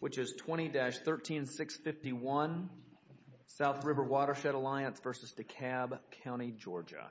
which is 20-13651 South River Watershed Alliance versus DeKalb County, Georgia.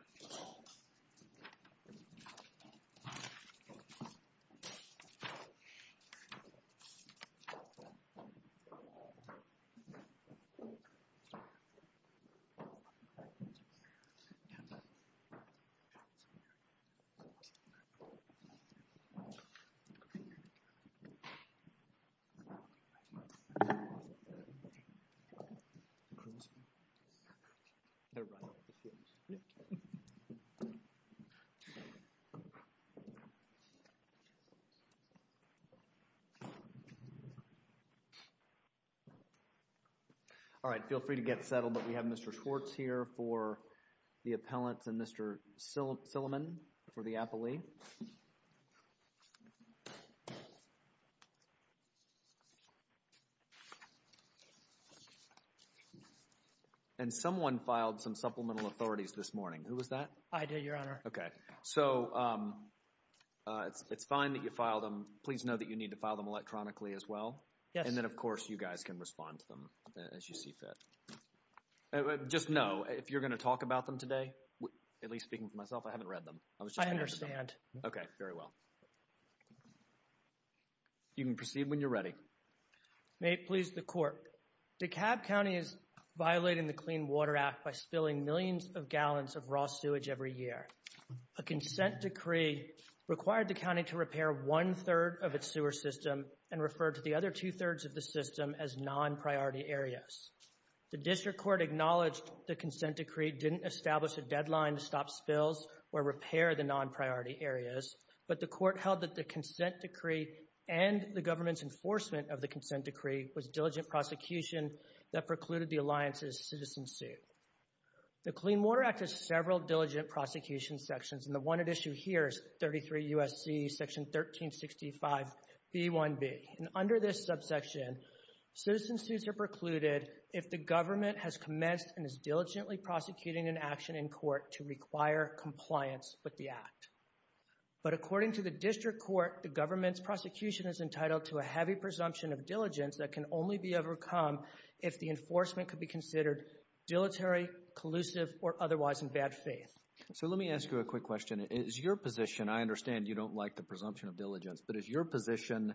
All right, feel free to get settled, but we have Mr. Schwartz here for the appellants and Mr. Silliman for the appellee. And someone filed some supplemental authorities this morning. Who was that? I did, Your Honor. Okay. So it's fine that you filed them. Please know that you need to file them electronically as well. Yes. And then, of course, you guys can respond to them as you see fit. Just know, if you're going to talk about them today, at least speaking for myself, I haven't read them. I understand. Okay. Very well. You can proceed when you're ready. May it please the Court, DeKalb County is violating the Clean Water Act by spilling millions of gallons of raw sewage every year. A consent decree required the county to repair one-third of its sewer system and refer to the other two-thirds of the system as non-priority areas. The district court acknowledged the consent decree didn't establish a deadline to stop spills or repair the non-priority areas, but the court held that the consent decree and the government's enforcement of the consent decree was diligent prosecution that precluded the alliance's citizen suit. The Clean Water Act has several diligent prosecution sections, and the one at issue here is 33 U.S.C. section 1365b1b. And under this subsection, citizen suits are precluded if the government has commenced and is diligently prosecuting an action in court to require compliance with the act. But according to the district court, the government's prosecution is entitled to a heavy presumption of diligence that can only be overcome if the enforcement could be considered dilatory, collusive, or otherwise in bad faith. So let me ask you a quick question. Is your position, I understand you don't like the presumption of diligence, but is your position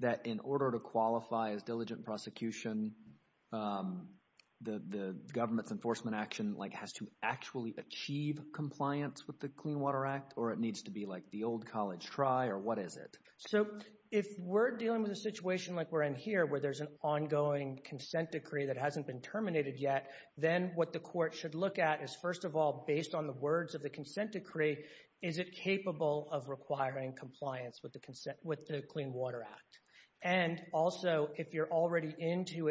that in order to qualify as diligent prosecution, the government's enforcement action has to actually achieve compliance with the Clean Water Act, or it needs to be like the old college try, or what is it? So if we're dealing with a situation like we're in here where there's an ongoing consent decree that hasn't been terminated yet, then what the court should look at is, first of all, based on the words of the consent decree, is it capable of requiring compliance with the Clean Water Act? And also, if you're already into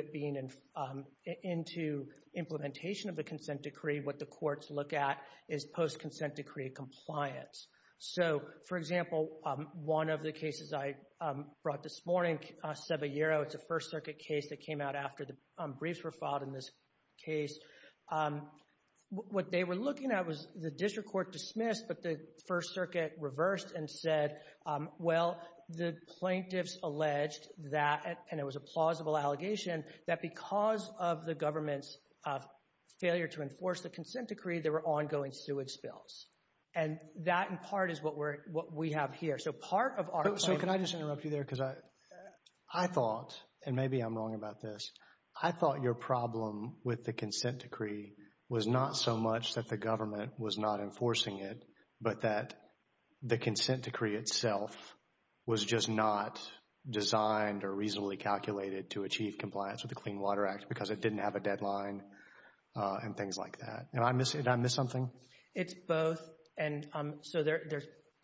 implementation of the consent decree, what the courts look at is post-consent decree compliance. So, for example, one of the cases I brought this morning, it's a First Circuit case that came out after the briefs were filed in this case. What they were looking at was the district court dismissed, but the First Circuit reversed and said, well, the plaintiffs alleged that, and it was a plausible allegation, that because of the government's failure to enforce the consent decree, there were ongoing sewage spills. And that, in part, is what we have here. So can I just interrupt you there? I thought, and maybe I'm wrong about this, I thought your problem with the consent decree was not so much that the government was not enforcing it, but that the consent decree itself was just not designed or reasonably calculated to achieve compliance with the Clean Water Act because it didn't have a deadline and things like that. Did I miss something? It's both. And so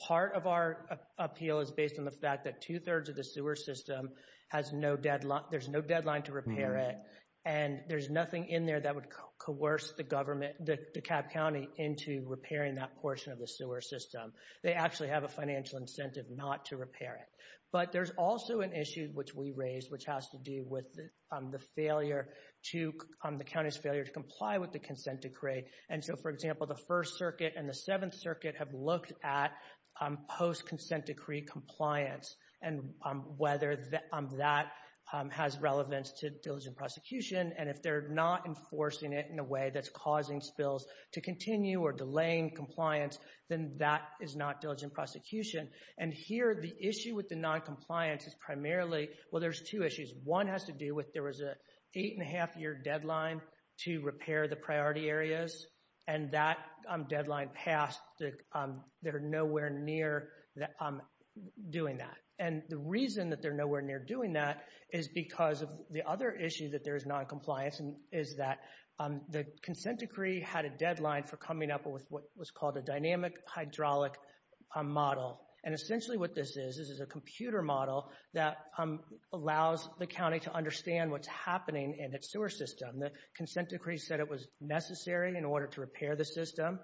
part of our appeal is based on the fact that two-thirds of the sewer system has no deadline, there's no deadline to repair it, and there's nothing in there that would coerce the government, DeKalb County, into repairing that portion of the sewer system. They actually have a financial incentive not to repair it. But there's also an issue, which we raised, which has to do with the failure to, the county's failure to comply with the consent decree. And so, for example, the First Circuit and the Seventh Circuit have looked at post-consent decree compliance and whether that has relevance to diligent prosecution, and if they're not enforcing it in a way that's causing spills to continue or delaying compliance, then that is not diligent prosecution. And here, the issue with the noncompliance is primarily, well, there's two issues. One has to do with there was an eight-and-a-half-year deadline to repair the priority areas, and that deadline passed. They're nowhere near doing that. And the reason that they're nowhere near doing that is because of the other issue, that there's noncompliance, is that the consent decree had a deadline for coming up with what was called a dynamic hydraulic model. And essentially what this is, this is a computer model that allows the county to understand what's happening in its sewer system. The consent decree said it was necessary in order to repair the system,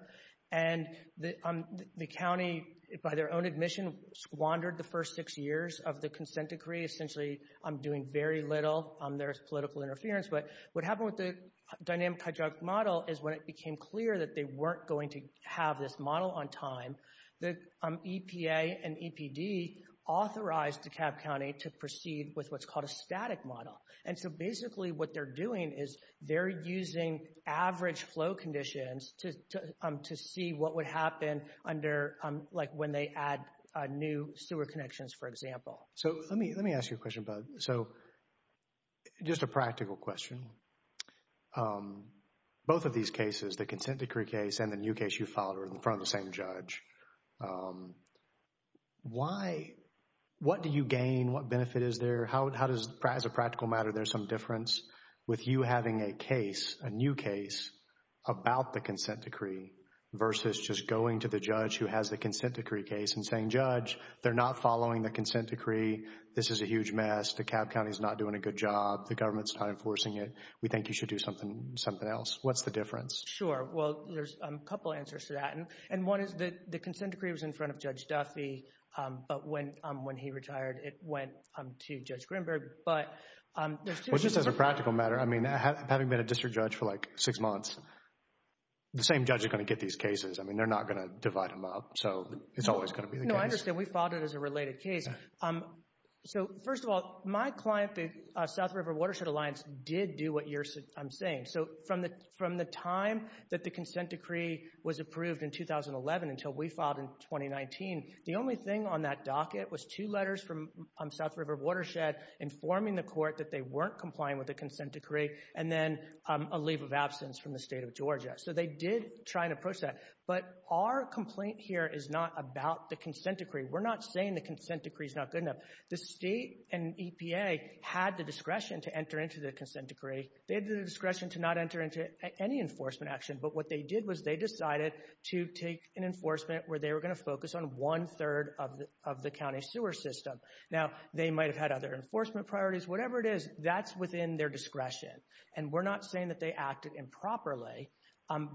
and the county, by their own admission, squandered the first six years of the consent decree, essentially doing very little. There's political interference, but what happened with the dynamic hydraulic model is when it became clear that they weren't going to have this model on time, the EPA and EPD authorized DeKalb County to proceed with what's called a static model. And so basically what they're doing is they're using average flow conditions to see what would happen under, like, when they add new sewer connections, for example. So let me ask you a question, Bud. So just a practical question. Both of these cases, the consent decree case and the new case you filed are in front of the same judge. What do you gain? What benefit is there? How does, as a practical matter, there's some difference with you having a case, a new case about the consent decree versus just going to the judge who has the consent decree case and saying, Judge, they're not following the consent decree. This is a huge mess. DeKalb County is not doing a good job. The government's not enforcing it. We think you should do something else. What's the difference? Sure. Well, there's a couple answers to that. And one is that the consent decree was in front of Judge Duffy, but when he retired it went to Judge Greenberg. Well, just as a practical matter, I mean, having been a district judge for, like, six months, the same judge is going to get these cases. I mean, they're not going to divide them up. So it's always going to be the case. No, I understand. We filed it as a related case. So first of all, my client, the South River Watershed Alliance, did do what I'm saying. So from the time that the consent decree was approved in 2011 until we filed in 2019, the only thing on that docket was two letters from South River Watershed informing the court that they weren't complying with the consent decree and then a leave of absence from the state of Georgia. So they did try and approach that. But our complaint here is not about the consent decree. We're not saying the consent decree is not good enough. The state and EPA had the discretion to enter into the consent decree. They had the discretion to not enter into any enforcement action. But what they did was they decided to take an enforcement where they were going to focus on one-third of the county sewer system. Now, they might have had other enforcement priorities. Whatever it is, that's within their discretion. And we're not saying that they acted improperly.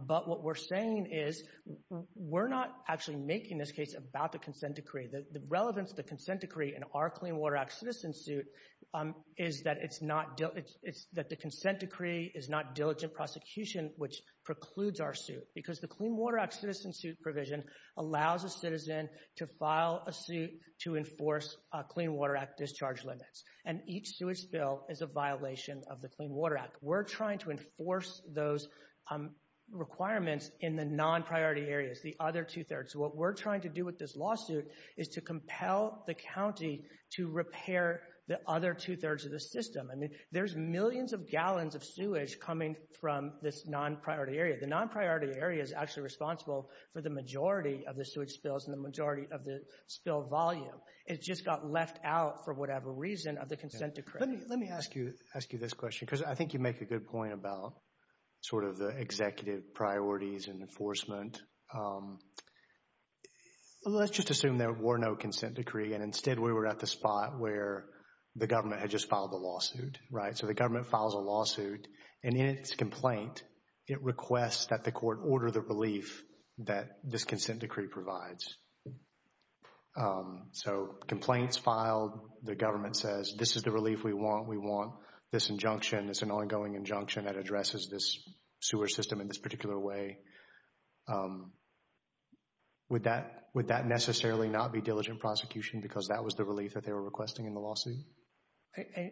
But what we're saying is we're not actually making this case about the consent decree. The relevance of the consent decree in our Clean Water Act citizen suit is that the consent decree is not diligent prosecution, which precludes our suit. Because the Clean Water Act citizen suit provision allows a citizen to file a suit to enforce Clean Water Act discharge limits. And each sewage spill is a violation of the Clean Water Act. We're trying to enforce those requirements in the non-priority areas, the other two-thirds. What we're trying to do with this lawsuit is to compel the county to repair the other two-thirds of the system. I mean, there's millions of gallons of sewage coming from this non-priority area. The non-priority area is actually responsible for the majority of the sewage spills and the majority of the spill volume. It just got left out for whatever reason of the consent decree. Let me ask you this question, because I think you make a good point about sort of the executive priorities and enforcement. Let's just assume there were no consent decree, and instead we were at the spot where the government had just filed the lawsuit, right? So the government files a lawsuit, and in its complaint, it requests that the court order the relief that this consent decree provides. So complaints filed, the government says, this is the relief we want, we want this injunction. It's an ongoing injunction that addresses this sewer system in this particular way. Would that necessarily not be diligent prosecution, because that was the relief that they were requesting in the lawsuit?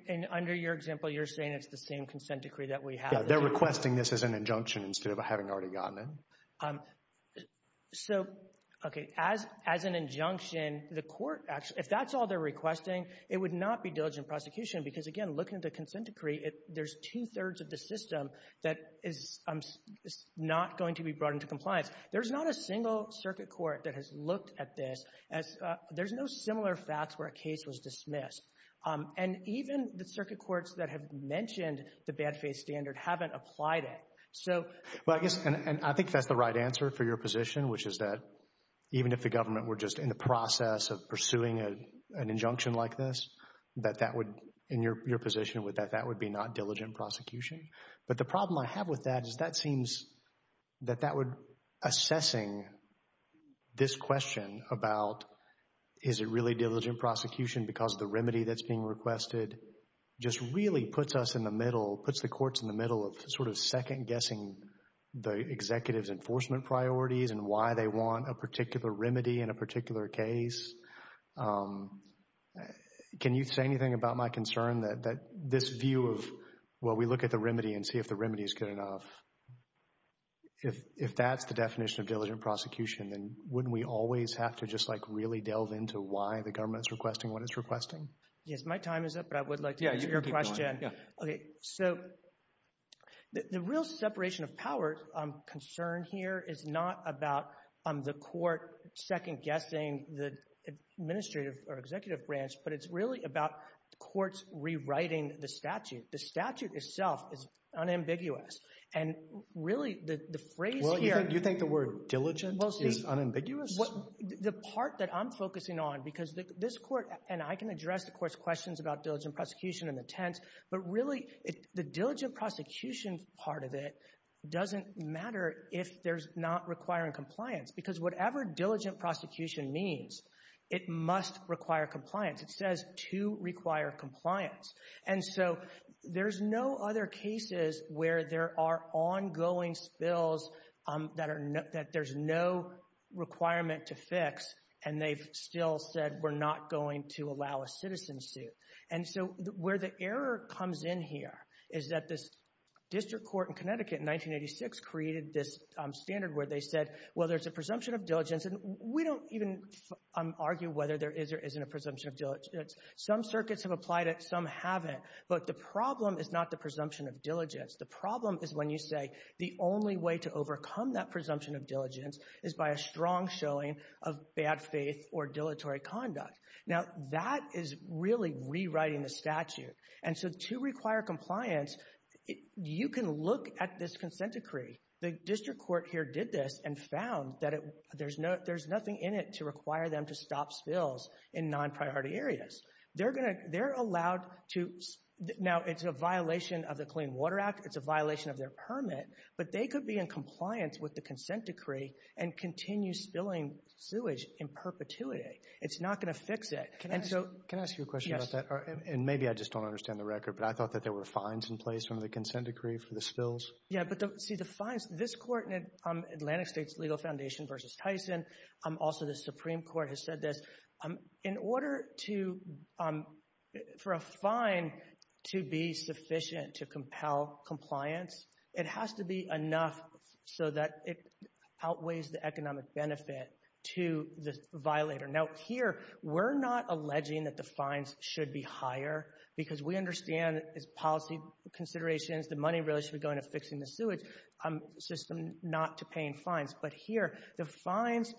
And under your example, you're saying it's the same consent decree that we have? Yeah, they're requesting this as an injunction instead of having already gotten it. So, okay, as an injunction, the court, if that's all they're requesting, it would not be diligent prosecution, because, again, looking at the consent decree, there's two-thirds of the system that is not going to be brought into compliance. There's not a single circuit court that has looked at this. There's no similar facts where a case was dismissed. And even the circuit courts that have mentioned the bad faith standard haven't applied it. Well, I guess, and I think that's the right answer for your position, which is that even if the government were just in the process of pursuing an injunction like this, that that would, in your position with that, that would be not diligent prosecution. But the problem I have with that is that seems that that would, assessing this question about is it really diligent prosecution because of the remedy that's being requested, just really puts us in the middle, puts the courts in the middle of sort of second-guessing the executive's enforcement priorities and why they want a particular remedy in a particular case. Can you say anything about my concern that this view of, well, we look at the remedy and see if the remedy is good enough, if that's the definition of diligent prosecution, then wouldn't we always have to just like really delve into why the government is requesting what it's requesting? Yes, my time is up, but I would like to answer your question. Okay, so the real separation of powers concern here is not about the court second-guessing the administrative or executive branch, but it's really about courts rewriting the statute. The statute itself is unambiguous, and really the phrase here— Well, you think the word diligent is unambiguous? The part that I'm focusing on, because this court, and I can address the court's questions about diligent prosecution in the tense, but really the diligent prosecution part of it doesn't matter if there's not requiring compliance, because whatever diligent prosecution means, it must require compliance. It says to require compliance. And so there's no other cases where there are ongoing spills that there's no requirement to fix, and they've still said we're not going to allow a citizen suit. And so where the error comes in here is that this district court in Connecticut in 1986 created this standard where they said, well, there's a presumption of diligence, and we don't even argue whether there is or isn't a presumption of diligence. Some circuits have applied it, some haven't, but the problem is not the presumption of diligence. The problem is when you say the only way to overcome that presumption of diligence is by a strong showing of bad faith or dilatory conduct. Now, that is really rewriting the statute. And so to require compliance, you can look at this consent decree. The district court here did this and found that there's nothing in it to require them to stop spills in non-priority areas. They're allowed to – now, it's a violation of the Clean Water Act, it's a violation of their permit, but they could be in compliance with the consent decree and continue spilling sewage in perpetuity. It's not going to fix it. Can I ask you a question about that? Yes. And maybe I just don't understand the record, but I thought that there were fines in place under the consent decree for the spills. Yeah, but see, the fines – this court in the Atlantic States Legal Foundation versus Tyson, also the Supreme Court has said this. In order for a fine to be sufficient to compel compliance, it has to be enough so that it outweighs the economic benefit to the violator. Now, here we're not alleging that the fines should be higher, because we understand that it's policy considerations, the money really should be going to fixing the sewage system, not to paying fines. But here, the fines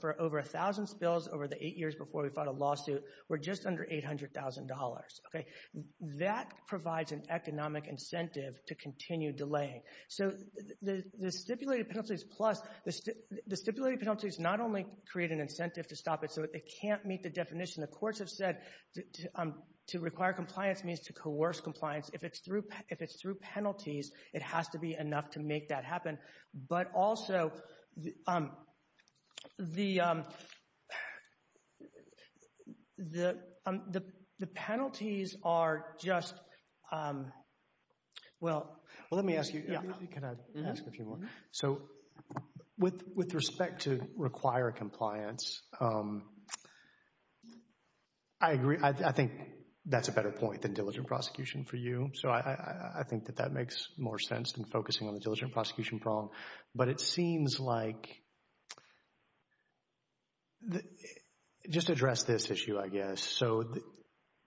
for over a thousand spills over the eight years before we filed a lawsuit were just under $800,000. That provides an economic incentive to continue delaying. So the stipulated penalties plus – the stipulated penalties not only create an incentive to stop it, so it can't meet the definition. The courts have said to require compliance means to coerce compliance. If it's through penalties, it has to be enough to make that happen. But also, the penalties are just – well, let me ask you – can I ask a few more? So with respect to require compliance, I agree. I think that's a better point than diligent prosecution for you. So I think that that makes more sense than focusing on the diligent prosecution prong. But it seems like – just address this issue, I guess. So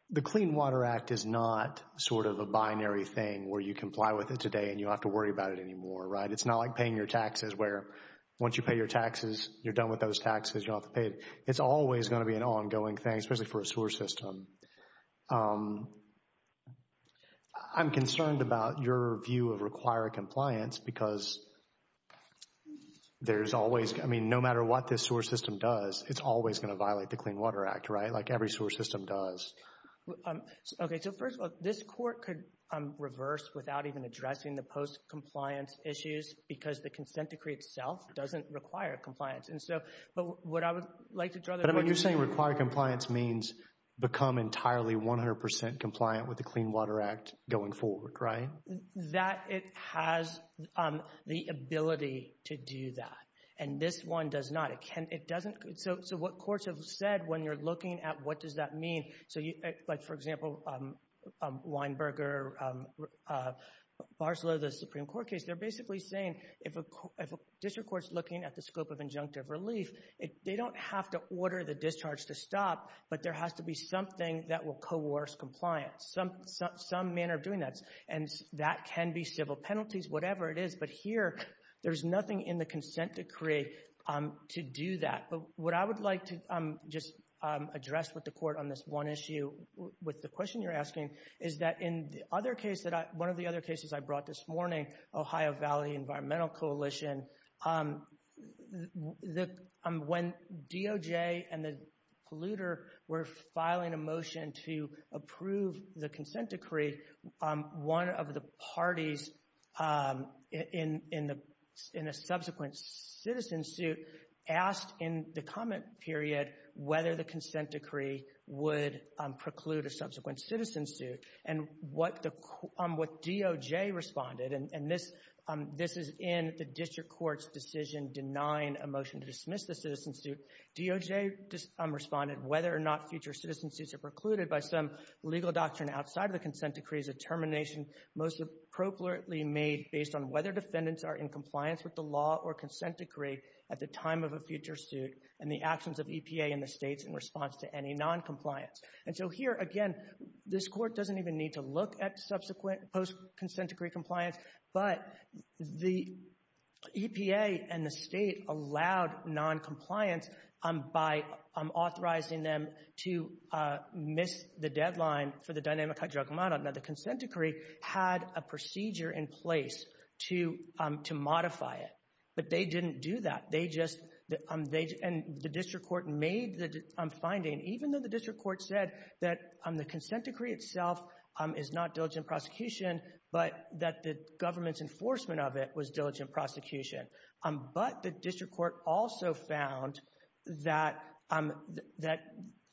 the Clean Water Act is not sort of a binary thing where you comply with it today and you don't have to worry about it anymore, right? It's not like paying your taxes where once you pay your taxes, you're done with those taxes, you don't have to pay it. It's always going to be an ongoing thing, especially for a sewer system. I'm concerned about your view of require compliance because there's always – I mean, no matter what this sewer system does, it's always going to violate the Clean Water Act, right? Like every sewer system does. Okay. So first of all, this court could reverse without even addressing the post-compliance issues because the consent decree itself doesn't require compliance. But what I would like to draw the – But you're saying require compliance means become entirely 100 percent compliant with the Clean Water Act going forward, right? That it has the ability to do that. And this one does not. It doesn't – so what courts have said when you're looking at what does that mean – like, for example, Weinberger, Barslow, the Supreme Court case, they're basically saying if a district court's looking at the scope of injunctive relief, they don't have to order the discharge to stop, but there has to be something that will coerce compliance, some manner of doing that. And that can be civil penalties, whatever it is. But here there's nothing in the consent decree to do that. But what I would like to just address with the court on this one issue, with the question you're asking, is that in the other case that I – one of the other cases I brought this morning, Ohio Valley Environmental Coalition, when DOJ and the polluter were filing a motion to approve the consent decree, one of the parties in a subsequent citizen suit asked in the comment period whether the consent decree would preclude a subsequent citizen suit. And what the – what DOJ responded, and this is in the district court's decision denying a motion to dismiss the citizen suit, DOJ responded whether or not future citizen suits are precluded by some legal doctrine outside of the consent decree is a termination most appropriately made based on whether defendants are in compliance with the law or consent decree at the time of a future suit and the actions of EPA and the states in response to any noncompliance. And so here, again, this court doesn't even need to look at subsequent post-consent decree compliance, but the EPA and the state allowed noncompliance by authorizing them to miss the deadline for the dynamic hydrochemical model. Now, the consent decree had a procedure in place to modify it, but they didn't do that. They just – and the district court made the finding, even though the district court said that the consent decree itself is not diligent prosecution, but that the government's enforcement of it was diligent prosecution. But the district court also found that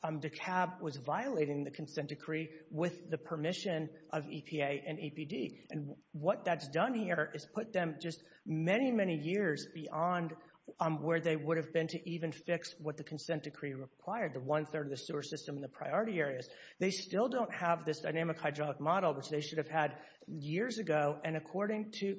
DeKalb was violating the consent decree with the permission of EPA and APD. And what that's done here is put them just many, many years beyond where they would have been to even fix what the consent decree required, the one-third of the sewer system in the priority areas. They still don't have this dynamic hydraulic model, which they should have had years ago. And according to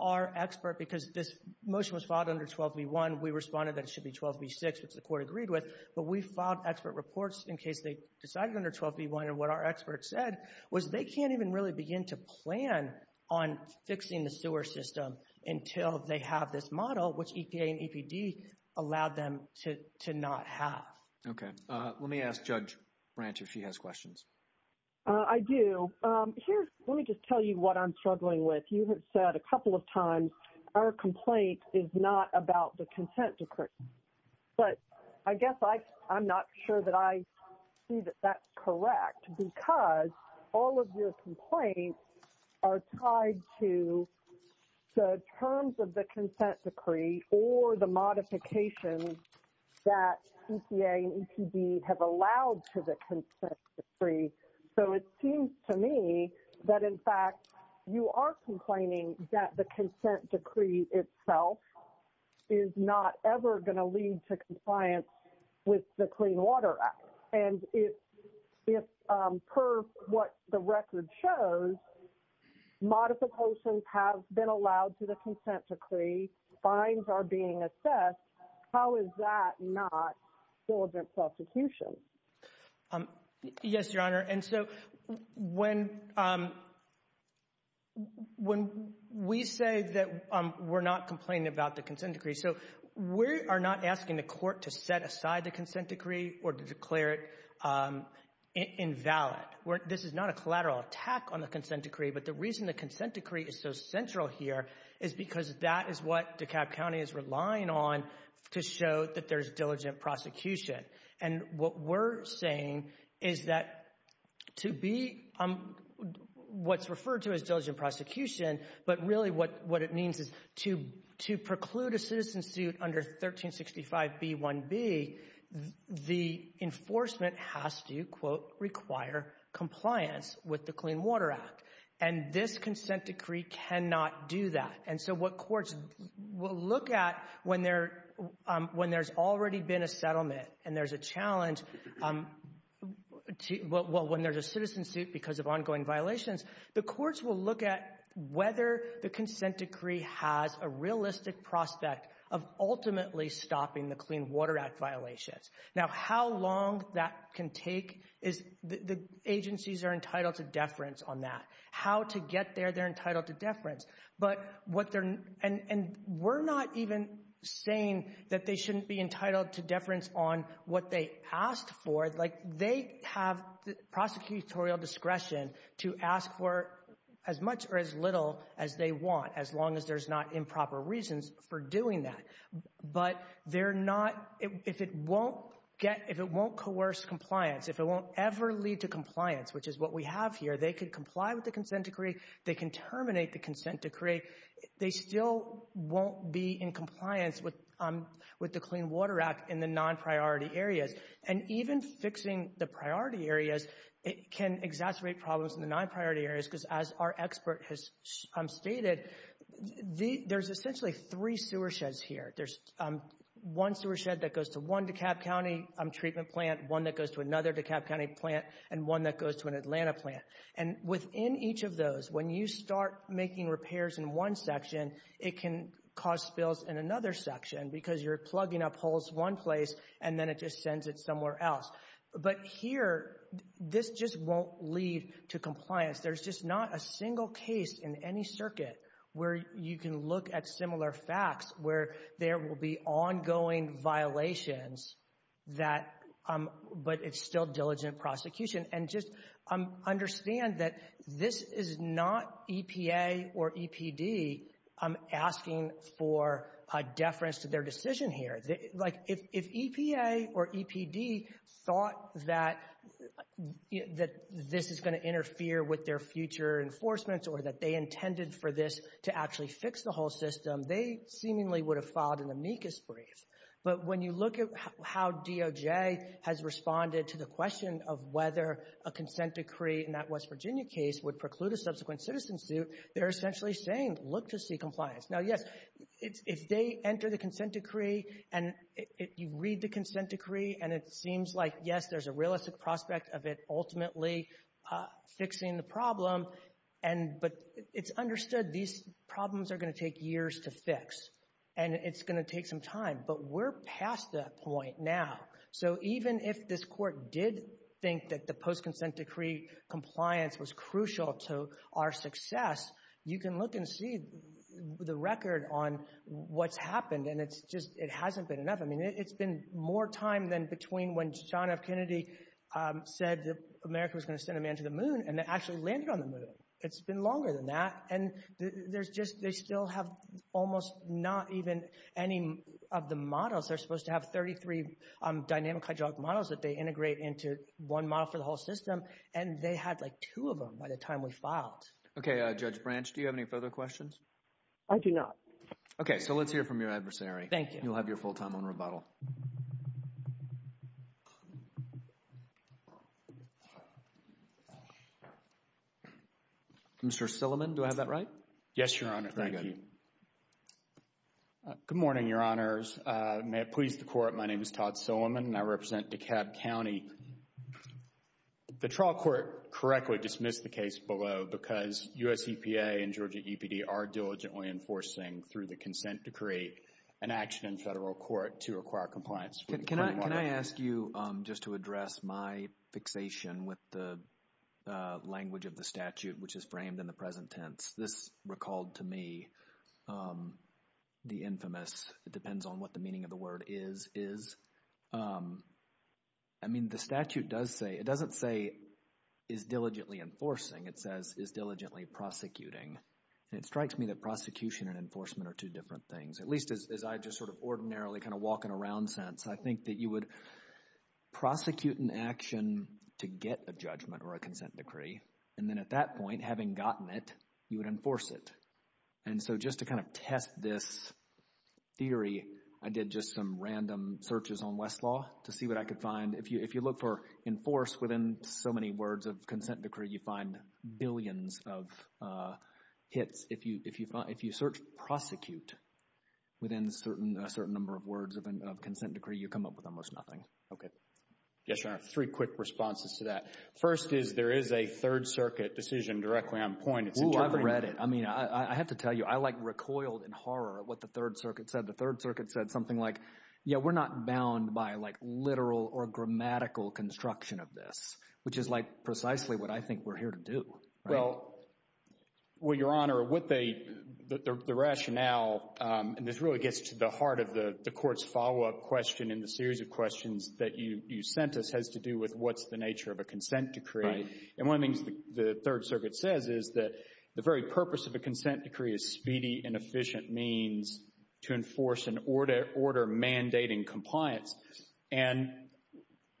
our expert, because this motion was filed under 12b-1, we responded that it should be 12b-6, which the court agreed with, but we filed expert reports in case they decided under 12b-1. And what our expert said was they can't even really begin to plan on fixing the sewer system until they have this model, which EPA and APD allowed them to not have. Okay. Let me ask Judge Branch if she has questions. I do. Let me just tell you what I'm struggling with. You have said a couple of times our complaint is not about the consent decree. But I guess I'm not sure that I see that that's correct, because all of your complaints are tied to the terms of the consent decree or the modification that EPA and APD have allowed to the consent decree. So it seems to me that, in fact, you are complaining that the consent decree itself is not ever going to lead to compliance with the Clean Water Act. And if, per what the record shows, modifications have been allowed to the consent decree, fines are being assessed, how is that not diligent prosecution? Yes, Your Honor. And so when we say that we're not complaining about the consent decree, so we are not asking the court to set aside the consent decree or to declare it invalid. This is not a collateral attack on the consent decree. But the reason the consent decree is so central here is because that is what DeKalb County is relying on to show that there's diligent prosecution. And what we're saying is that to be what's referred to as diligent prosecution, but really what it means is to preclude a citizen suit under 1365b1b, the enforcement has to, quote, require compliance with the Clean Water Act. And this consent decree cannot do that. And so what courts will look at when there's already been a settlement and there's a challenge when there's a citizen suit because of ongoing violations, the courts will look at whether the consent decree has a realistic prospect of ultimately stopping the Clean Water Act violations. Now, how long that can take is the agencies are entitled to deference on that. How to get there, they're entitled to deference. But what they're — and we're not even saying that they shouldn't be entitled to deference on what they asked for. Like, they have prosecutorial discretion to ask for as much or as little as they want, as long as there's not improper reasons for doing that. But they're not — if it won't get — if it won't coerce compliance, if it won't ever lead to compliance, which is what we have here, they could comply with the consent decree. They can terminate the consent decree. They still won't be in compliance with the Clean Water Act in the non-priority areas. And even fixing the priority areas can exacerbate problems in the non-priority areas because, as our expert has stated, there's essentially three sewer sheds here. There's one sewer shed that goes to one DeKalb County treatment plant, one that goes to another DeKalb County plant, and one that goes to an Atlanta plant. And within each of those, when you start making repairs in one section, it can cause spills in another section because you're plugging up holes one place and then it just sends it somewhere else. But here, this just won't lead to compliance. There's just not a single case in any circuit where you can look at similar facts where there will be ongoing violations but it's still diligent prosecution. And just understand that this is not EPA or EPD asking for a deference to their decision here. If EPA or EPD thought that this is going to interfere with their future enforcements or that they intended for this to actually fix the whole system, they seemingly would have filed an amicus brief. But when you look at how DOJ has responded to the question of whether a consent decree in that West Virginia case would preclude a subsequent citizen suit, they're essentially saying, look to see compliance. Now, yes, if they enter the consent decree and you read the consent decree and it seems like, yes, there's a realistic prospect of it ultimately fixing the problem, but it's understood these problems are going to take years to fix and it's going to take some time. But we're past that point now. So even if this Court did think that the post-consent decree compliance was crucial to our success, you can look and see the record on what's happened and it hasn't been enough. I mean, it's been more time than between when John F. Kennedy said that America was going to send a man to the moon and it actually landed on the moon. It's been longer than that. And they still have almost not even any of the models. They're supposed to have 33 dynamic hydraulic models that they integrate into one model for the whole system, and they had, like, two of them by the time we filed. Okay, Judge Branch, do you have any further questions? I do not. Okay, so let's hear from your adversary. Thank you. You'll have your full time on rebuttal. Mr. Silliman, do I have that right? Yes, Your Honor. Thank you. Good morning, Your Honors. May it please the Court, my name is Todd Silliman and I represent DeKalb County. The trial court correctly dismissed the case below because USEPA and Georgia EPD are diligently enforcing, through the consent decree, an action in federal court to acquire compliance. Can I ask you just to address my fixation with the language of the statute which is framed in the present tense? This recalled to me the infamous, it depends on what the meaning of the word is, is, I mean, the statute does say, it doesn't say is diligently enforcing, it says is diligently prosecuting. And it strikes me that prosecution and enforcement are two different things, at least as I just sort of ordinarily kind of walking around sense. I think that you would prosecute an action to get a judgment or a consent decree and then at that point, having gotten it, you would enforce it. And so just to kind of test this theory, I did just some random searches on Westlaw to see what I could find. If you look for enforce within so many words of consent decree, you find billions of hits. If you search prosecute within a certain number of words of consent decree, you come up with almost nothing. Okay. Yes, Your Honor. Three quick responses to that. First is there is a Third Circuit decision directly on point. I've read it. I mean, I have to tell you, I like recoiled in horror at what the Third Circuit said. The Third Circuit said something like, yeah, we're not bound by like literal or grammatical construction of this, which is like precisely what I think we're here to do. Well, Your Honor, the rationale, and this really gets to the heart of the Court's follow-up question and the series of questions that you sent us, has to do with what's the nature of a consent decree. And one of the things the Third Circuit says is that the very purpose of a consent decree is speedy and efficient means to enforce an order mandating compliance. And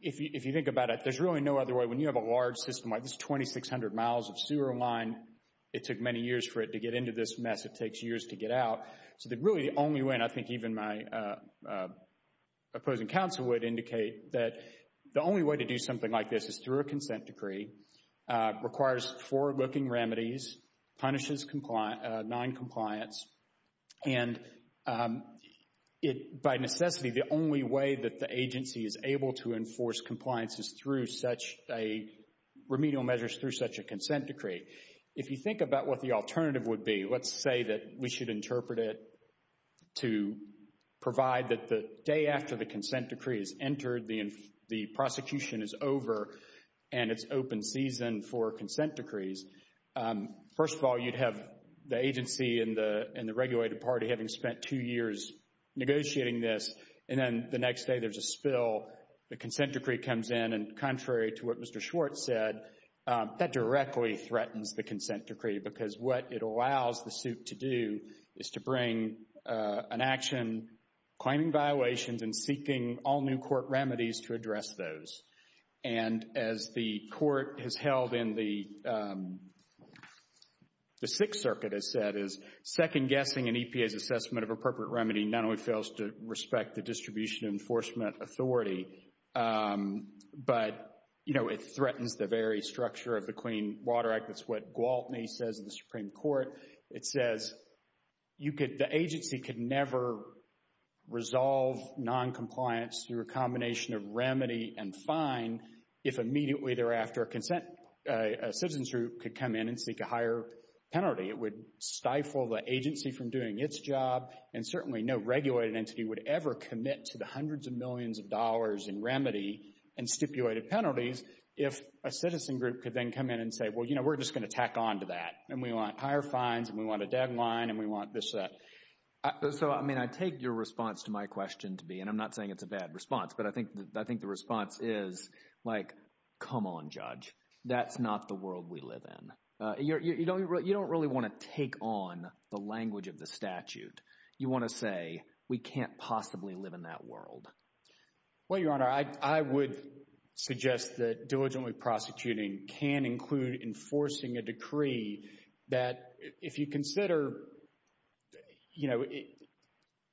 if you think about it, there's really no other way. When you have a large system like this, 2,600 miles of sewer line, it took many years for it to get into this mess. It takes years to get out. So really the only way, and I think even my opposing counsel would indicate that the only way to do something like this is through a consent decree, requires four looking remedies, punishes noncompliance, and by necessity, the only way that the agency is able to enforce compliance is through such a remedial measure is through such a consent decree. If you think about what the alternative would be, let's say that we should interpret it to provide that the day after the consent decree is entered, the prosecution is over, and it's open season for consent decrees. First of all, you'd have the agency and the regulated party having spent two years negotiating this, and then the next day there's a spill, the consent decree comes in, and contrary to what Mr. Schwartz said, that directly threatens the consent decree because what it allows the suit to do is to bring an action claiming violations and seeking all new court remedies to address those. And as the court has held in the Sixth Circuit has said, is second guessing an EPA's assessment of appropriate remedy not only fails to respect the distribution enforcement authority, but it threatens the very structure of the Clean Water Act. That's what Gwaltney says in the Supreme Court. It says the agency could never resolve noncompliance through a combination of remedy and fine if immediately thereafter a citizen's group could come in and seek a higher penalty. It would stifle the agency from doing its job, and certainly no regulated entity would ever commit to the hundreds of millions of dollars in remedy and stipulated penalties if a citizen group could then come in and say, well, you know, we're just going to tack on to that, and we want higher fines, and we want a deadline, and we want this, that. So, I mean, I take your response to my question to be, and I'm not saying it's a bad response, but I think the response is like, come on, judge. That's not the world we live in. You don't really want to take on the language of the statute. You want to say we can't possibly live in that world. Well, Your Honor, I would suggest that diligently prosecuting can include enforcing a decree that if you consider, you know,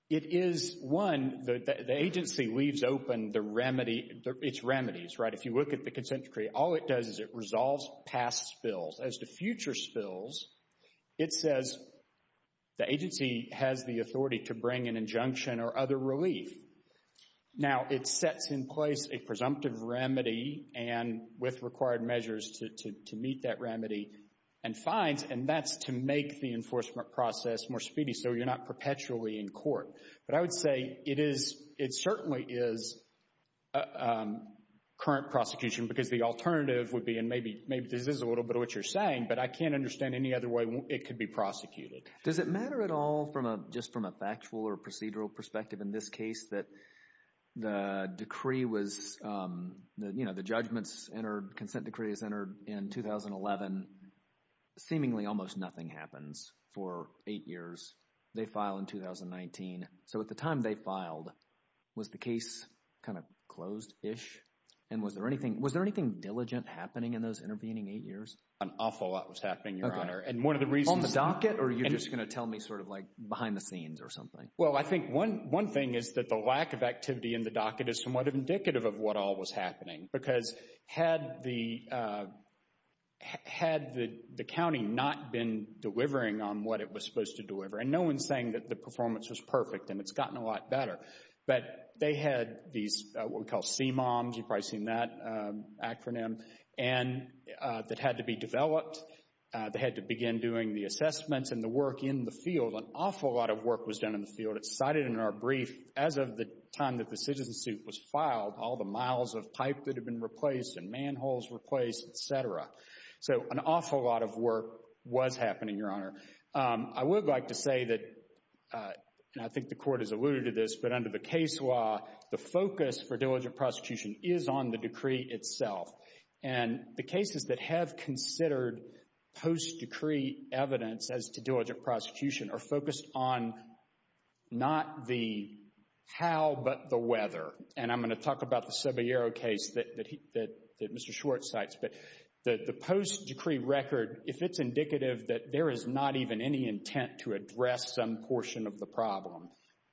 it is, one, the agency leaves open the remedy, its remedies, right? If you look at the consent decree, all it does is it resolves past spills. As to future spills, it says the agency has the authority to bring an injunction or other relief. Now, it sets in place a presumptive remedy and with required measures to meet that remedy and fines, and that's to make the enforcement process more speedy so you're not perpetually in court. But I would say it certainly is current prosecution because the alternative would be, and maybe this is a little bit of what you're saying, but I can't understand any other way it could be prosecuted. Does it matter at all from a, just from a factual or procedural perspective in this case that the decree was, you know, the judgments entered, consent decree was entered in 2011, seemingly almost nothing happens for eight years. They file in 2019. So at the time they filed, was the case kind of closed-ish? And was there anything diligent happening in those intervening eight years? An awful lot was happening, Your Honor. On the docket, or you're just going to tell me sort of like behind the scenes or something? Well, I think one thing is that the lack of activity in the docket is somewhat indicative of what all was happening because had the county not been delivering on what it was supposed to deliver, and no one's saying that the performance was perfect and it's gotten a lot better, but they had these what we call CMOMs, you've probably seen that acronym, and that had to be developed. They had to begin doing the assessments and the work in the field. An awful lot of work was done in the field. It's cited in our brief as of the time that the citizen suit was filed, all the miles of pipe that had been replaced and manholes replaced, et cetera. So an awful lot of work was happening, Your Honor. I would like to say that, and I think the Court has alluded to this, but under the case law, the focus for diligent prosecution is on the decree itself. And the cases that have considered post-decree evidence as to diligent prosecution are focused on not the how, but the whether. And I'm going to talk about the Saballero case that Mr. Schwartz cites, but the post-decree record, if it's indicative that there is not even any intent to address some portion of the problem,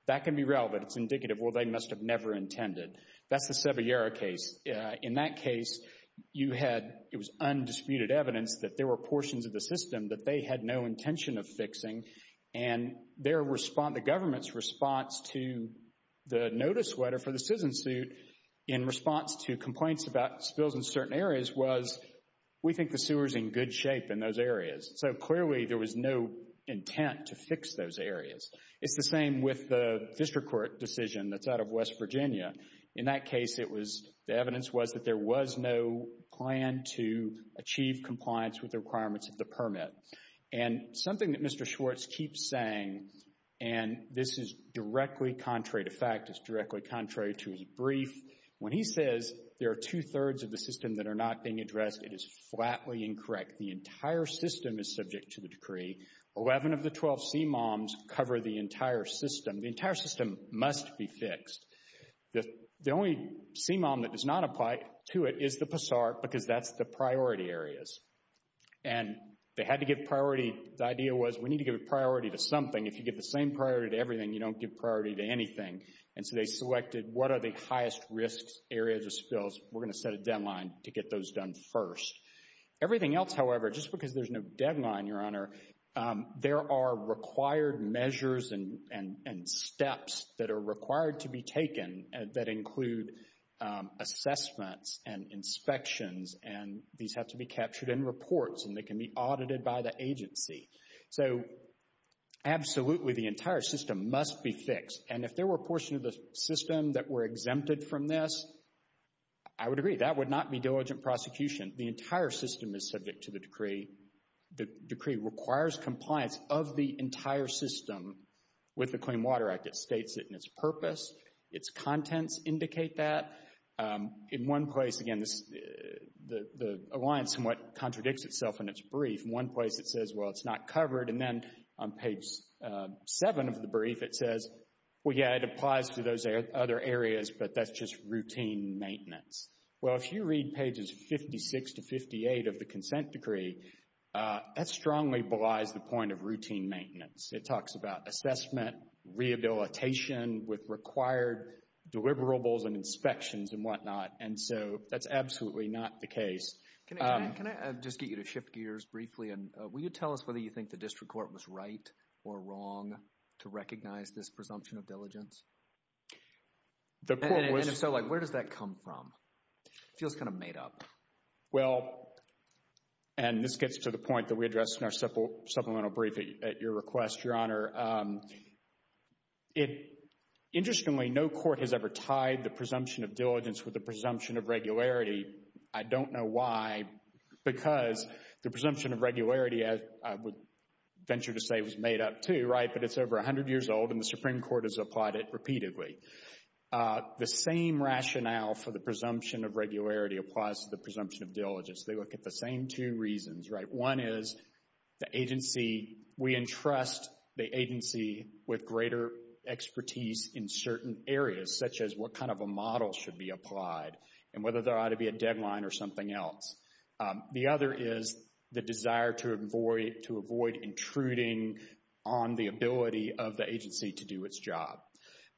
that can be relevant. It's indicative, well, they must have never intended. That's the Saballero case. In that case, it was undisputed evidence that there were portions of the system that they had no intention of fixing. And the government's response to the notice letter for the citizen suit in response to complaints about spills in certain areas was, we think the sewer is in good shape in those areas. So clearly there was no intent to fix those areas. It's the same with the district court decision that's out of West Virginia. In that case, the evidence was that there was no plan to achieve compliance with the requirements of the permit. And something that Mr. Schwartz keeps saying, and this is directly contrary to fact, it's directly contrary to his brief, when he says there are two-thirds of the system that are not being addressed, it is flatly incorrect. The entire system is subject to the decree. Eleven of the 12 CMOMs cover the entire system. The entire system must be fixed. The only CMOM that does not apply to it is the PASART because that's the priority areas. And they had to give priority. The idea was, we need to give priority to something. If you give the same priority to everything, you don't give priority to anything. And so they selected what are the highest risk areas of spills. We're going to set a deadline to get those done first. Everything else, however, just because there's no deadline, Your Honor, there are required measures and steps that are required to be taken that include assessments and inspections, and these have to be captured in reports, and they can be audited by the agency. So absolutely, the entire system must be fixed. And if there were a portion of the system that were exempted from this, I would agree. That would not be diligent prosecution. The entire system is subject to the decree. The decree requires compliance of the entire system with the Clean Water Act. It states it in its purpose. Its contents indicate that. In one place, again, the alliance somewhat contradicts itself in its brief. In one place, it says, well, it's not covered. And then on page 7 of the brief, it says, well, yeah, it applies to those other areas, but that's just routine maintenance. Well, if you read pages 56 to 58 of the consent decree, that strongly belies the point of routine maintenance. It talks about assessment, rehabilitation with required deliverables and inspections and whatnot, and so that's absolutely not the case. Can I just get you to shift gears briefly, and will you tell us whether you think the district court was right or wrong to recognize this presumption of diligence? And if so, where does that come from? It feels kind of made up. Well, and this gets to the point that we addressed in our supplemental brief at your request, Your Honor. Interestingly, no court has ever tied the presumption of diligence with the presumption of regularity. I don't know why, because the presumption of regularity, I would venture to say, was made up too, right? But it's over 100 years old, and the Supreme Court has applied it repeatedly. The same rationale for the presumption of regularity applies to the presumption of diligence. They look at the same two reasons, right? One is the agency, we entrust the agency with greater expertise in certain areas, such as what kind of a model should be applied and whether there ought to be a deadline or something else. The other is the desire to avoid intruding on the ability of the agency to do its job.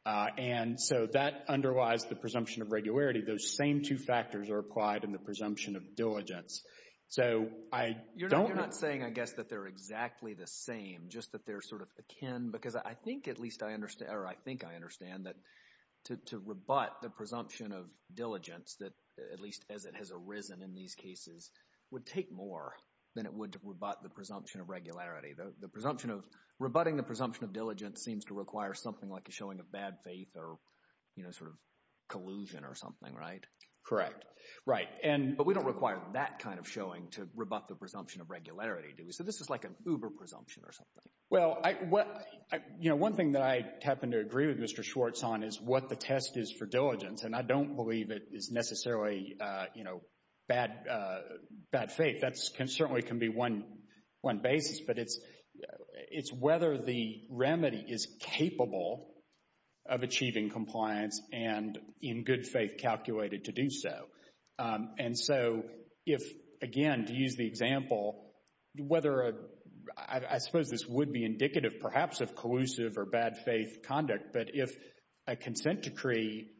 And so that underlies the presumption of regularity. Those same two factors are applied in the presumption of diligence. So I don't... You're not saying, I guess, that they're exactly the same, just that they're sort of akin, because I think at least I understand, or I think I understand, that to rebut the presumption of diligence, at least as it has arisen in these cases, would take more than it would to rebut the presumption of regularity. The presumption of... Rebutting the presumption of diligence seems to require something like a showing of bad faith or, you know, sort of collusion or something, right? Correct. Right, but we don't require that kind of showing to rebut the presumption of regularity, do we? So this is like an uber-presumption or something. Well, you know, one thing that I happen to agree with Mr. Schwartz on is what the test is for diligence, and I don't believe it is necessarily, you know, bad faith. That certainly can be one basis, but it's whether the remedy is capable of achieving compliance and in good faith calculated to do so. And so if, again, to use the example, whether a... I suppose this would be indicative perhaps of collusive or bad faith conduct, but if a consent decree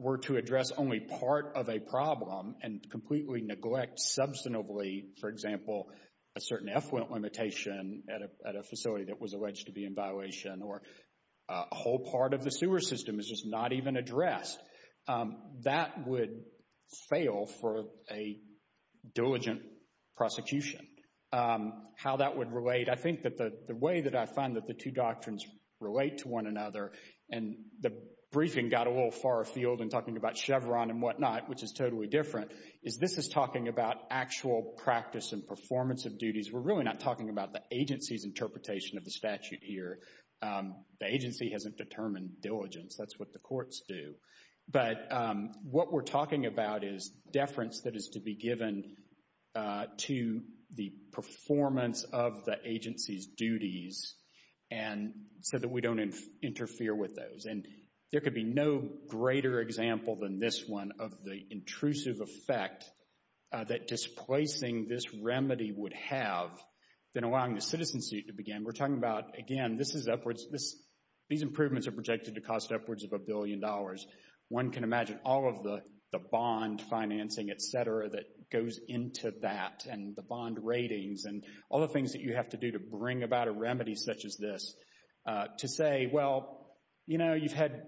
were to address only part of a problem and completely neglect substantively, for example, a certain effluent limitation at a facility that was alleged to be in violation or a whole part of the sewer system is just not even addressed, that would fail for a diligent prosecution. How that would relate, I think that the way that I find that the two doctrines relate to one another, and the briefing got a little far afield in talking about Chevron and whatnot, which is totally different, is this is talking about actual practice and performance of duties. We're really not talking about the agency's interpretation of the statute here. The agency hasn't determined diligence. That's what the courts do. But what we're talking about is deference that is to be given to the performance of the agency's duties so that we don't interfere with those. And there could be no greater example than this one of the intrusive effect that displacing this remedy would have than allowing the citizens to begin. We're talking about, again, this is upwards. These improvements are projected to cost upwards of a billion dollars. One can imagine all of the bond financing, et cetera, that goes into that and the bond ratings and all the things that you have to do to bring about a remedy such as this to say, well, you know, you've had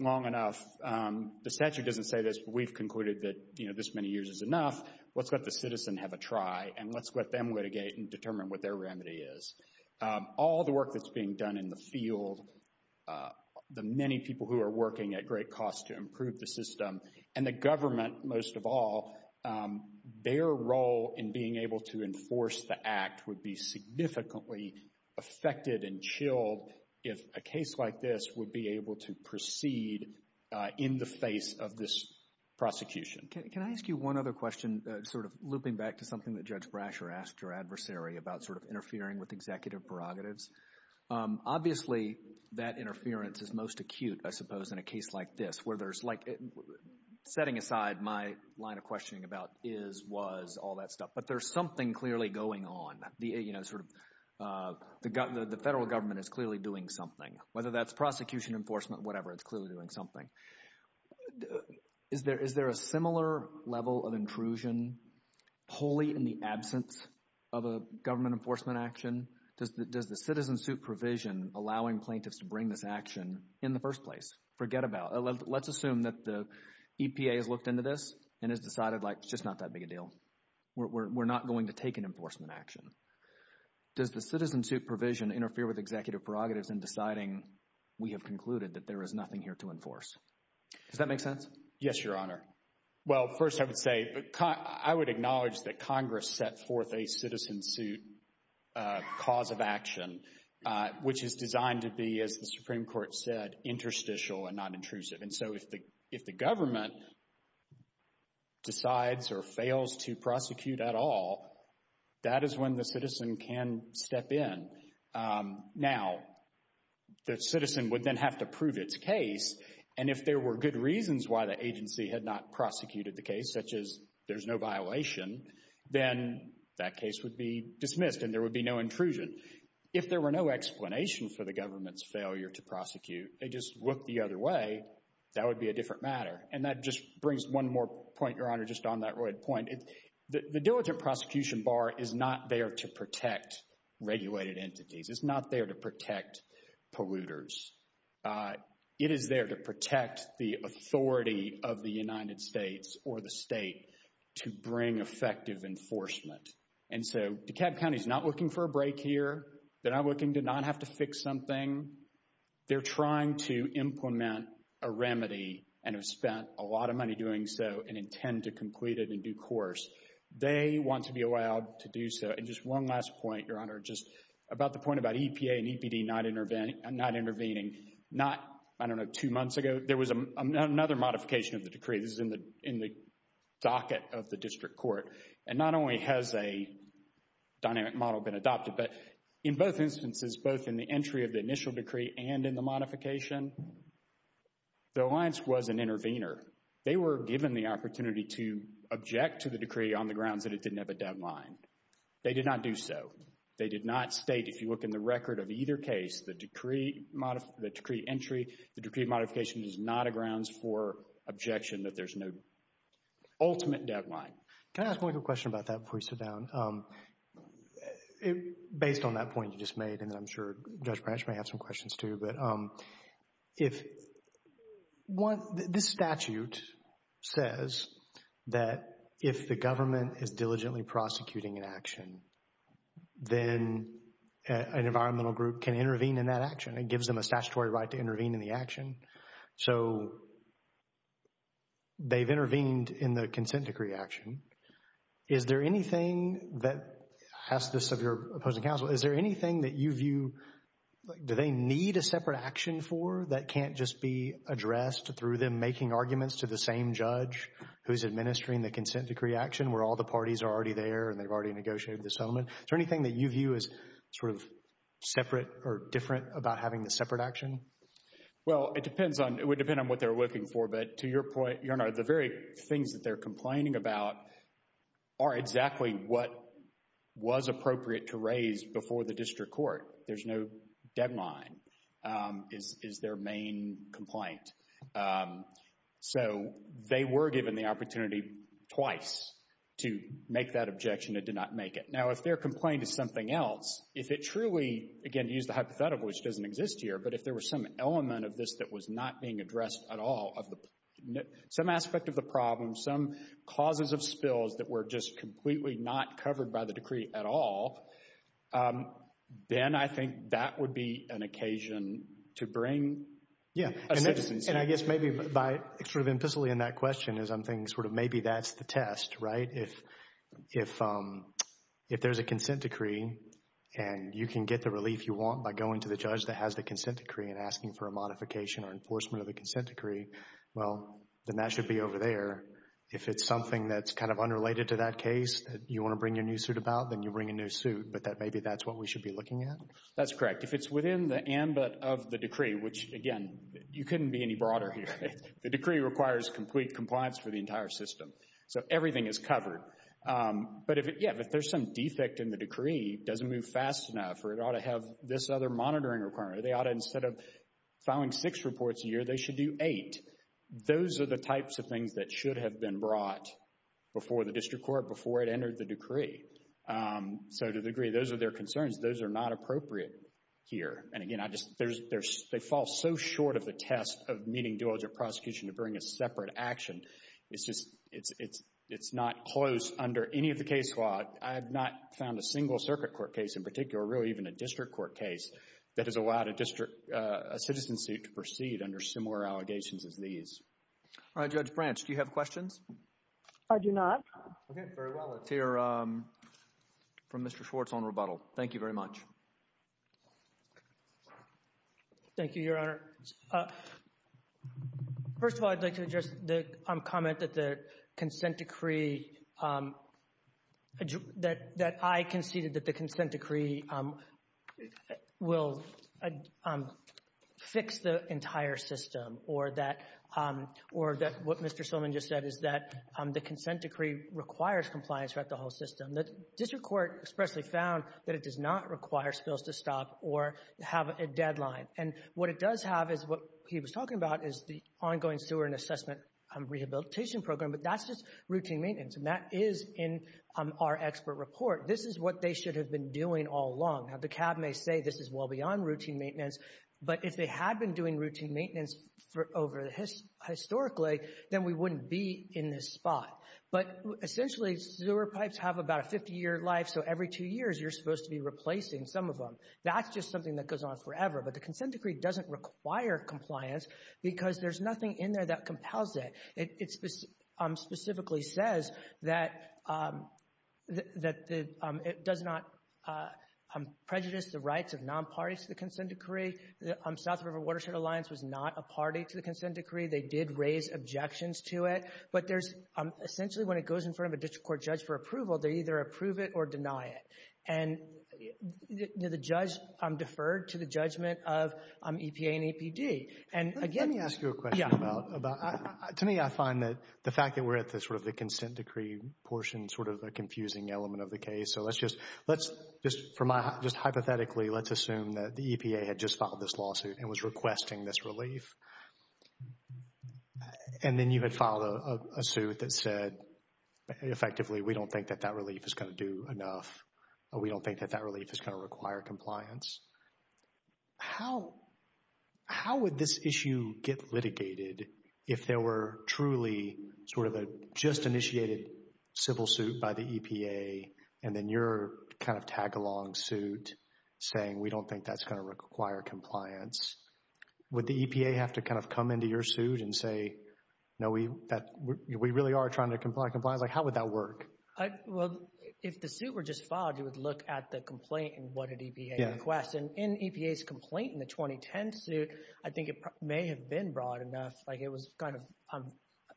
long enough. The statute doesn't say this, but we've concluded that, you know, this many years is enough. Let's let the citizen have a try, and let's let them litigate and determine what their remedy is. All the work that's being done in the field, the many people who are working at great cost to improve the system, and the government, most of all, would be significantly affected and chilled if a case like this would be able to proceed in the face of this prosecution. Can I ask you one other question, sort of looping back to something that Judge Brasher asked her adversary about sort of interfering with executive prerogatives? Obviously, that interference is most acute, I suppose, in a case like this where there's, like, setting aside my line of questioning about is, was, all that stuff, but there's something clearly going on. You know, sort of the federal government is clearly doing something. Whether that's prosecution, enforcement, whatever, it's clearly doing something. Is there a similar level of intrusion wholly in the absence of a government enforcement action? Does the citizen-suit provision allowing plaintiffs to bring this action in the first place? Forget about it. Let's assume that the EPA has looked into this and has decided, like, it's just not that big a deal. We're not going to take an enforcement action. Does the citizen-suit provision interfere with executive prerogatives in deciding we have concluded that there is nothing here to enforce? Does that make sense? Yes, Your Honor. Well, first I would say, I would acknowledge that Congress set forth a citizen-suit cause of action, which is designed to be, as the Supreme Court said, interstitial and not intrusive. And so if the government decides or fails to prosecute at all, that is when the citizen can step in. Now, the citizen would then have to prove its case, and if there were good reasons why the agency had not prosecuted the case, such as there's no violation, then that case would be dismissed and there would be no intrusion. If there were no explanation for the government's failure to prosecute, they just look the other way, that would be a different matter. And that just brings one more point, Your Honor, just on that point. The diligent prosecution bar is not there to protect regulated entities. It's not there to protect polluters. It is there to protect the authority of the United States or the state to bring effective enforcement. And so DeKalb County is not looking for a break here. They're not looking to not have to fix something. They're trying to implement a remedy and have spent a lot of money doing so and intend to complete it in due course. They want to be allowed to do so. And just one last point, Your Honor, just about the point about EPA and EPD not intervening. Not, I don't know, two months ago, there was another modification of the decree. This is in the docket of the district court. And not only has a dynamic model been adopted, but in both instances, both in the entry of the initial decree and in the modification, the alliance was an intervener. They were given the opportunity to object to the decree on the grounds that it didn't have a deadline. They did not do so. They did not state, if you look in the record of either case, the decree entry, the decree modification, is not a grounds for objection that there's no ultimate deadline. Can I ask one question about that before you sit down? Based on that point you just made, and I'm sure Judge Branch may have some questions too, but this statute says that if the government is diligently prosecuting an action, then an environmental group can intervene in that action. So they've intervened in the consent decree action. Is there anything that, I'll ask this of your opposing counsel, is there anything that you view, like, do they need a separate action for that can't just be addressed through them making arguments to the same judge who's administering the consent decree action where all the parties are already there and they've already negotiated the settlement? Is there anything that you view as sort of separate or different about having the separate action? Well, it depends on what they're looking for, but to your point, Your Honor, the very things that they're complaining about are exactly what was appropriate to raise before the district court. There's no deadline is their main complaint. So they were given the opportunity twice to make that objection. It did not make it. I'm going to use the hypothetical, which doesn't exist here, but if there was some element of this that was not being addressed at all, some aspect of the problem, some causes of spills that were just completely not covered by the decree at all, then I think that would be an occasion to bring a citizen in. And I guess maybe by sort of implicitly in that question is I'm thinking sort of maybe that's the test, right? If there's a consent decree and you can get the relief you want by going to the judge that has the consent decree and asking for a modification or enforcement of the consent decree, well, then that should be over there. If it's something that's kind of unrelated to that case that you want to bring your new suit about, then you bring a new suit, but maybe that's what we should be looking at? That's correct. If it's within the ambit of the decree, which, again, you couldn't be any broader here. The decree requires complete compliance for the entire system. So everything is covered. But, yeah, if there's some defect in the decree, doesn't move fast enough, or it ought to have this other monitoring requirement, or they ought to instead of filing six reports a year, they should do eight. Those are the types of things that should have been brought before the district court, before it entered the decree. So to the degree those are their concerns, those are not appropriate here. And, again, they fall so short of the test of meeting dual object prosecution to bring a separate action. It's just not close under any of the case law. I have not found a single circuit court case in particular, really even a district court case, that has allowed a citizen suit to proceed under similar allegations as these. All right, Judge Branch, do you have questions? I do not. Okay, very well. Let's hear from Mr. Schwartz on rebuttal. Thank you very much. Thank you, Your Honor. First of all, I'd like to address the comment that the consent decree that I conceded that the consent decree will fix the entire system or that what Mr. Silliman just said is that the consent decree requires compliance throughout the whole system. The district court expressly found that it does not require spills to stop or have a deadline. And what it does have is what he was talking about is the ongoing sewer and assessment rehabilitation program, but that's just routine maintenance, and that is in our expert report. This is what they should have been doing all along. Now, the CAB may say this is well beyond routine maintenance, but if they had been doing routine maintenance historically, then we wouldn't be in this spot. But, essentially, sewer pipes have about a 50-year life, so every two years you're supposed to be replacing some of them. That's just something that goes on forever. But the consent decree doesn't require compliance because there's nothing in there that compels it. It specifically says that it does not prejudice the rights of non-parties to the consent decree. The South River Watershed Alliance was not a party to the consent decree. They did raise objections to it. But, essentially, when it goes in front of a district court judge for approval, they either approve it or deny it. And the judge deferred to the judgment of EPA and APD. Let me ask you a question. To me, I find that the fact that we're at sort of the consent decree portion is sort of a confusing element of the case. So, just hypothetically, let's assume that the EPA had just filed this lawsuit and was requesting this relief, and then you had filed a suit that said, effectively, we don't think that that relief is going to do enough. We don't think that that relief is going to require compliance. How would this issue get litigated if there were truly sort of a just-initiated civil suit by the EPA and then your kind of tag-along suit saying, we don't think that's going to require compliance? Would the EPA have to kind of come into your suit and say, no, we really are trying to comply with compliance? Like, how would that work? Well, if the suit were just filed, you would look at the complaint and what did EPA request. And in EPA's complaint in the 2010 suit, I think it may have been broad enough. Like, it was kind of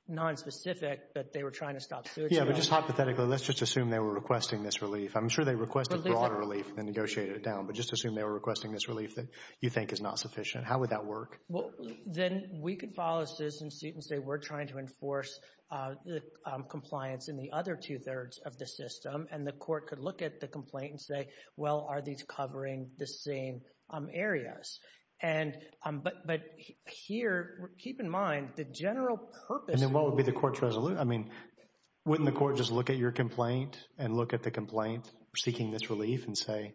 nonspecific, but they were trying to stop suits. Yeah, but just hypothetically, let's just assume they were requesting this relief. I'm sure they requested broader relief and negotiated it down, but just assume they were requesting this relief that you think is not sufficient. How would that work? Well, then we could file a citizen suit and say, we're trying to enforce compliance in the other two-thirds of the system, and the court could look at the complaint and say, well, are these covering the same areas? But here, keep in mind, the general purpose of the— And then what would be the court's resolution? I mean, wouldn't the court just look at your complaint and look at the complaint seeking this relief and say,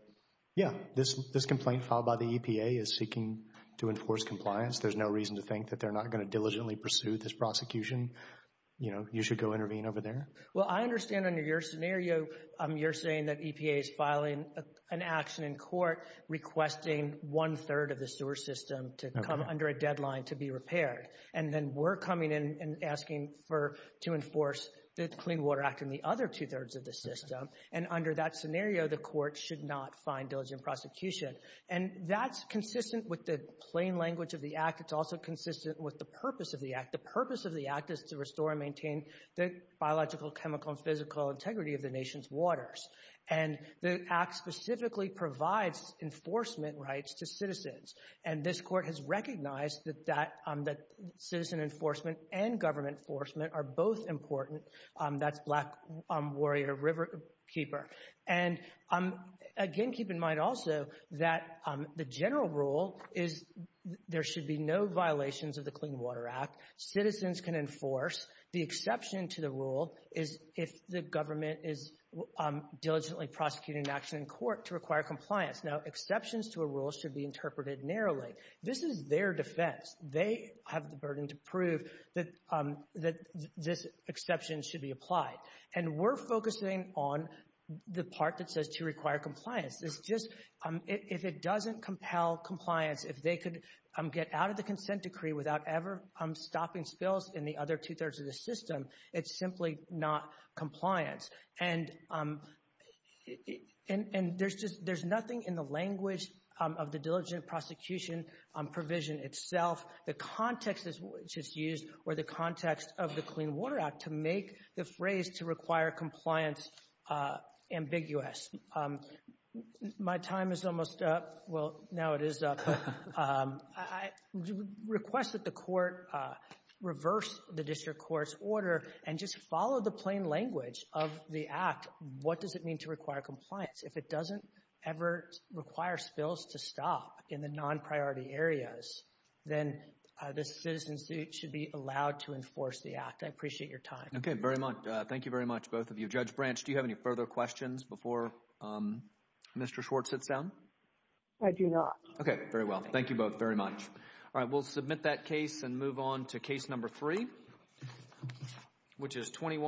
yeah, this complaint filed by the EPA is seeking to enforce compliance. There's no reason to think that they're not going to diligently pursue this prosecution. You know, you should go intervene over there. Well, I understand under your scenario, you're saying that EPA is filing an action in court requesting one-third of the sewer system to come under a deadline to be repaired, and then we're coming in and asking to enforce the Clean Water Act in the other two-thirds of the system, and under that scenario, the court should not find diligent prosecution. And that's consistent with the plain language of the Act. It's also consistent with the purpose of the Act. The purpose of the Act is to restore and maintain the biological, chemical, and physical integrity of the nation's waters, and the Act specifically provides enforcement rights to citizens, and this court has recognized that citizen enforcement and government enforcement are both important. That's Black Warrior Riverkeeper. And again, keep in mind also that the general rule is there should be no violations of the Clean Water Act. Citizens can enforce. The exception to the rule is if the government is diligently prosecuting an action in court to require compliance. Now, exceptions to a rule should be interpreted narrowly. This is their defense. They have the burden to prove that this exception should be applied, and we're focusing on the part that says to require compliance. It's just if it doesn't compel compliance, if they could get out of the consent decree without ever stopping spills in the other two-thirds of the system, it's simply not compliance. And there's nothing in the language of the diligent prosecution provision itself, the context which is used, or the context of the Clean Water Act, to make the phrase to require compliance ambiguous. My time is almost up. Well, now it is up. I request that the court reverse the district court's order and just follow the plain language of the Act. What does it mean to require compliance? If it doesn't ever require spills to stop in the non-priority areas, then this citizen's suit should be allowed to enforce the Act. I appreciate your time. Okay, very much. Thank you very much, both of you. Judge Branch, do you have any further questions before Mr. Schwartz sits down? I do not. Okay, very well. Thank you both very much. All right, we'll submit that case and move on to case number three, which is 21.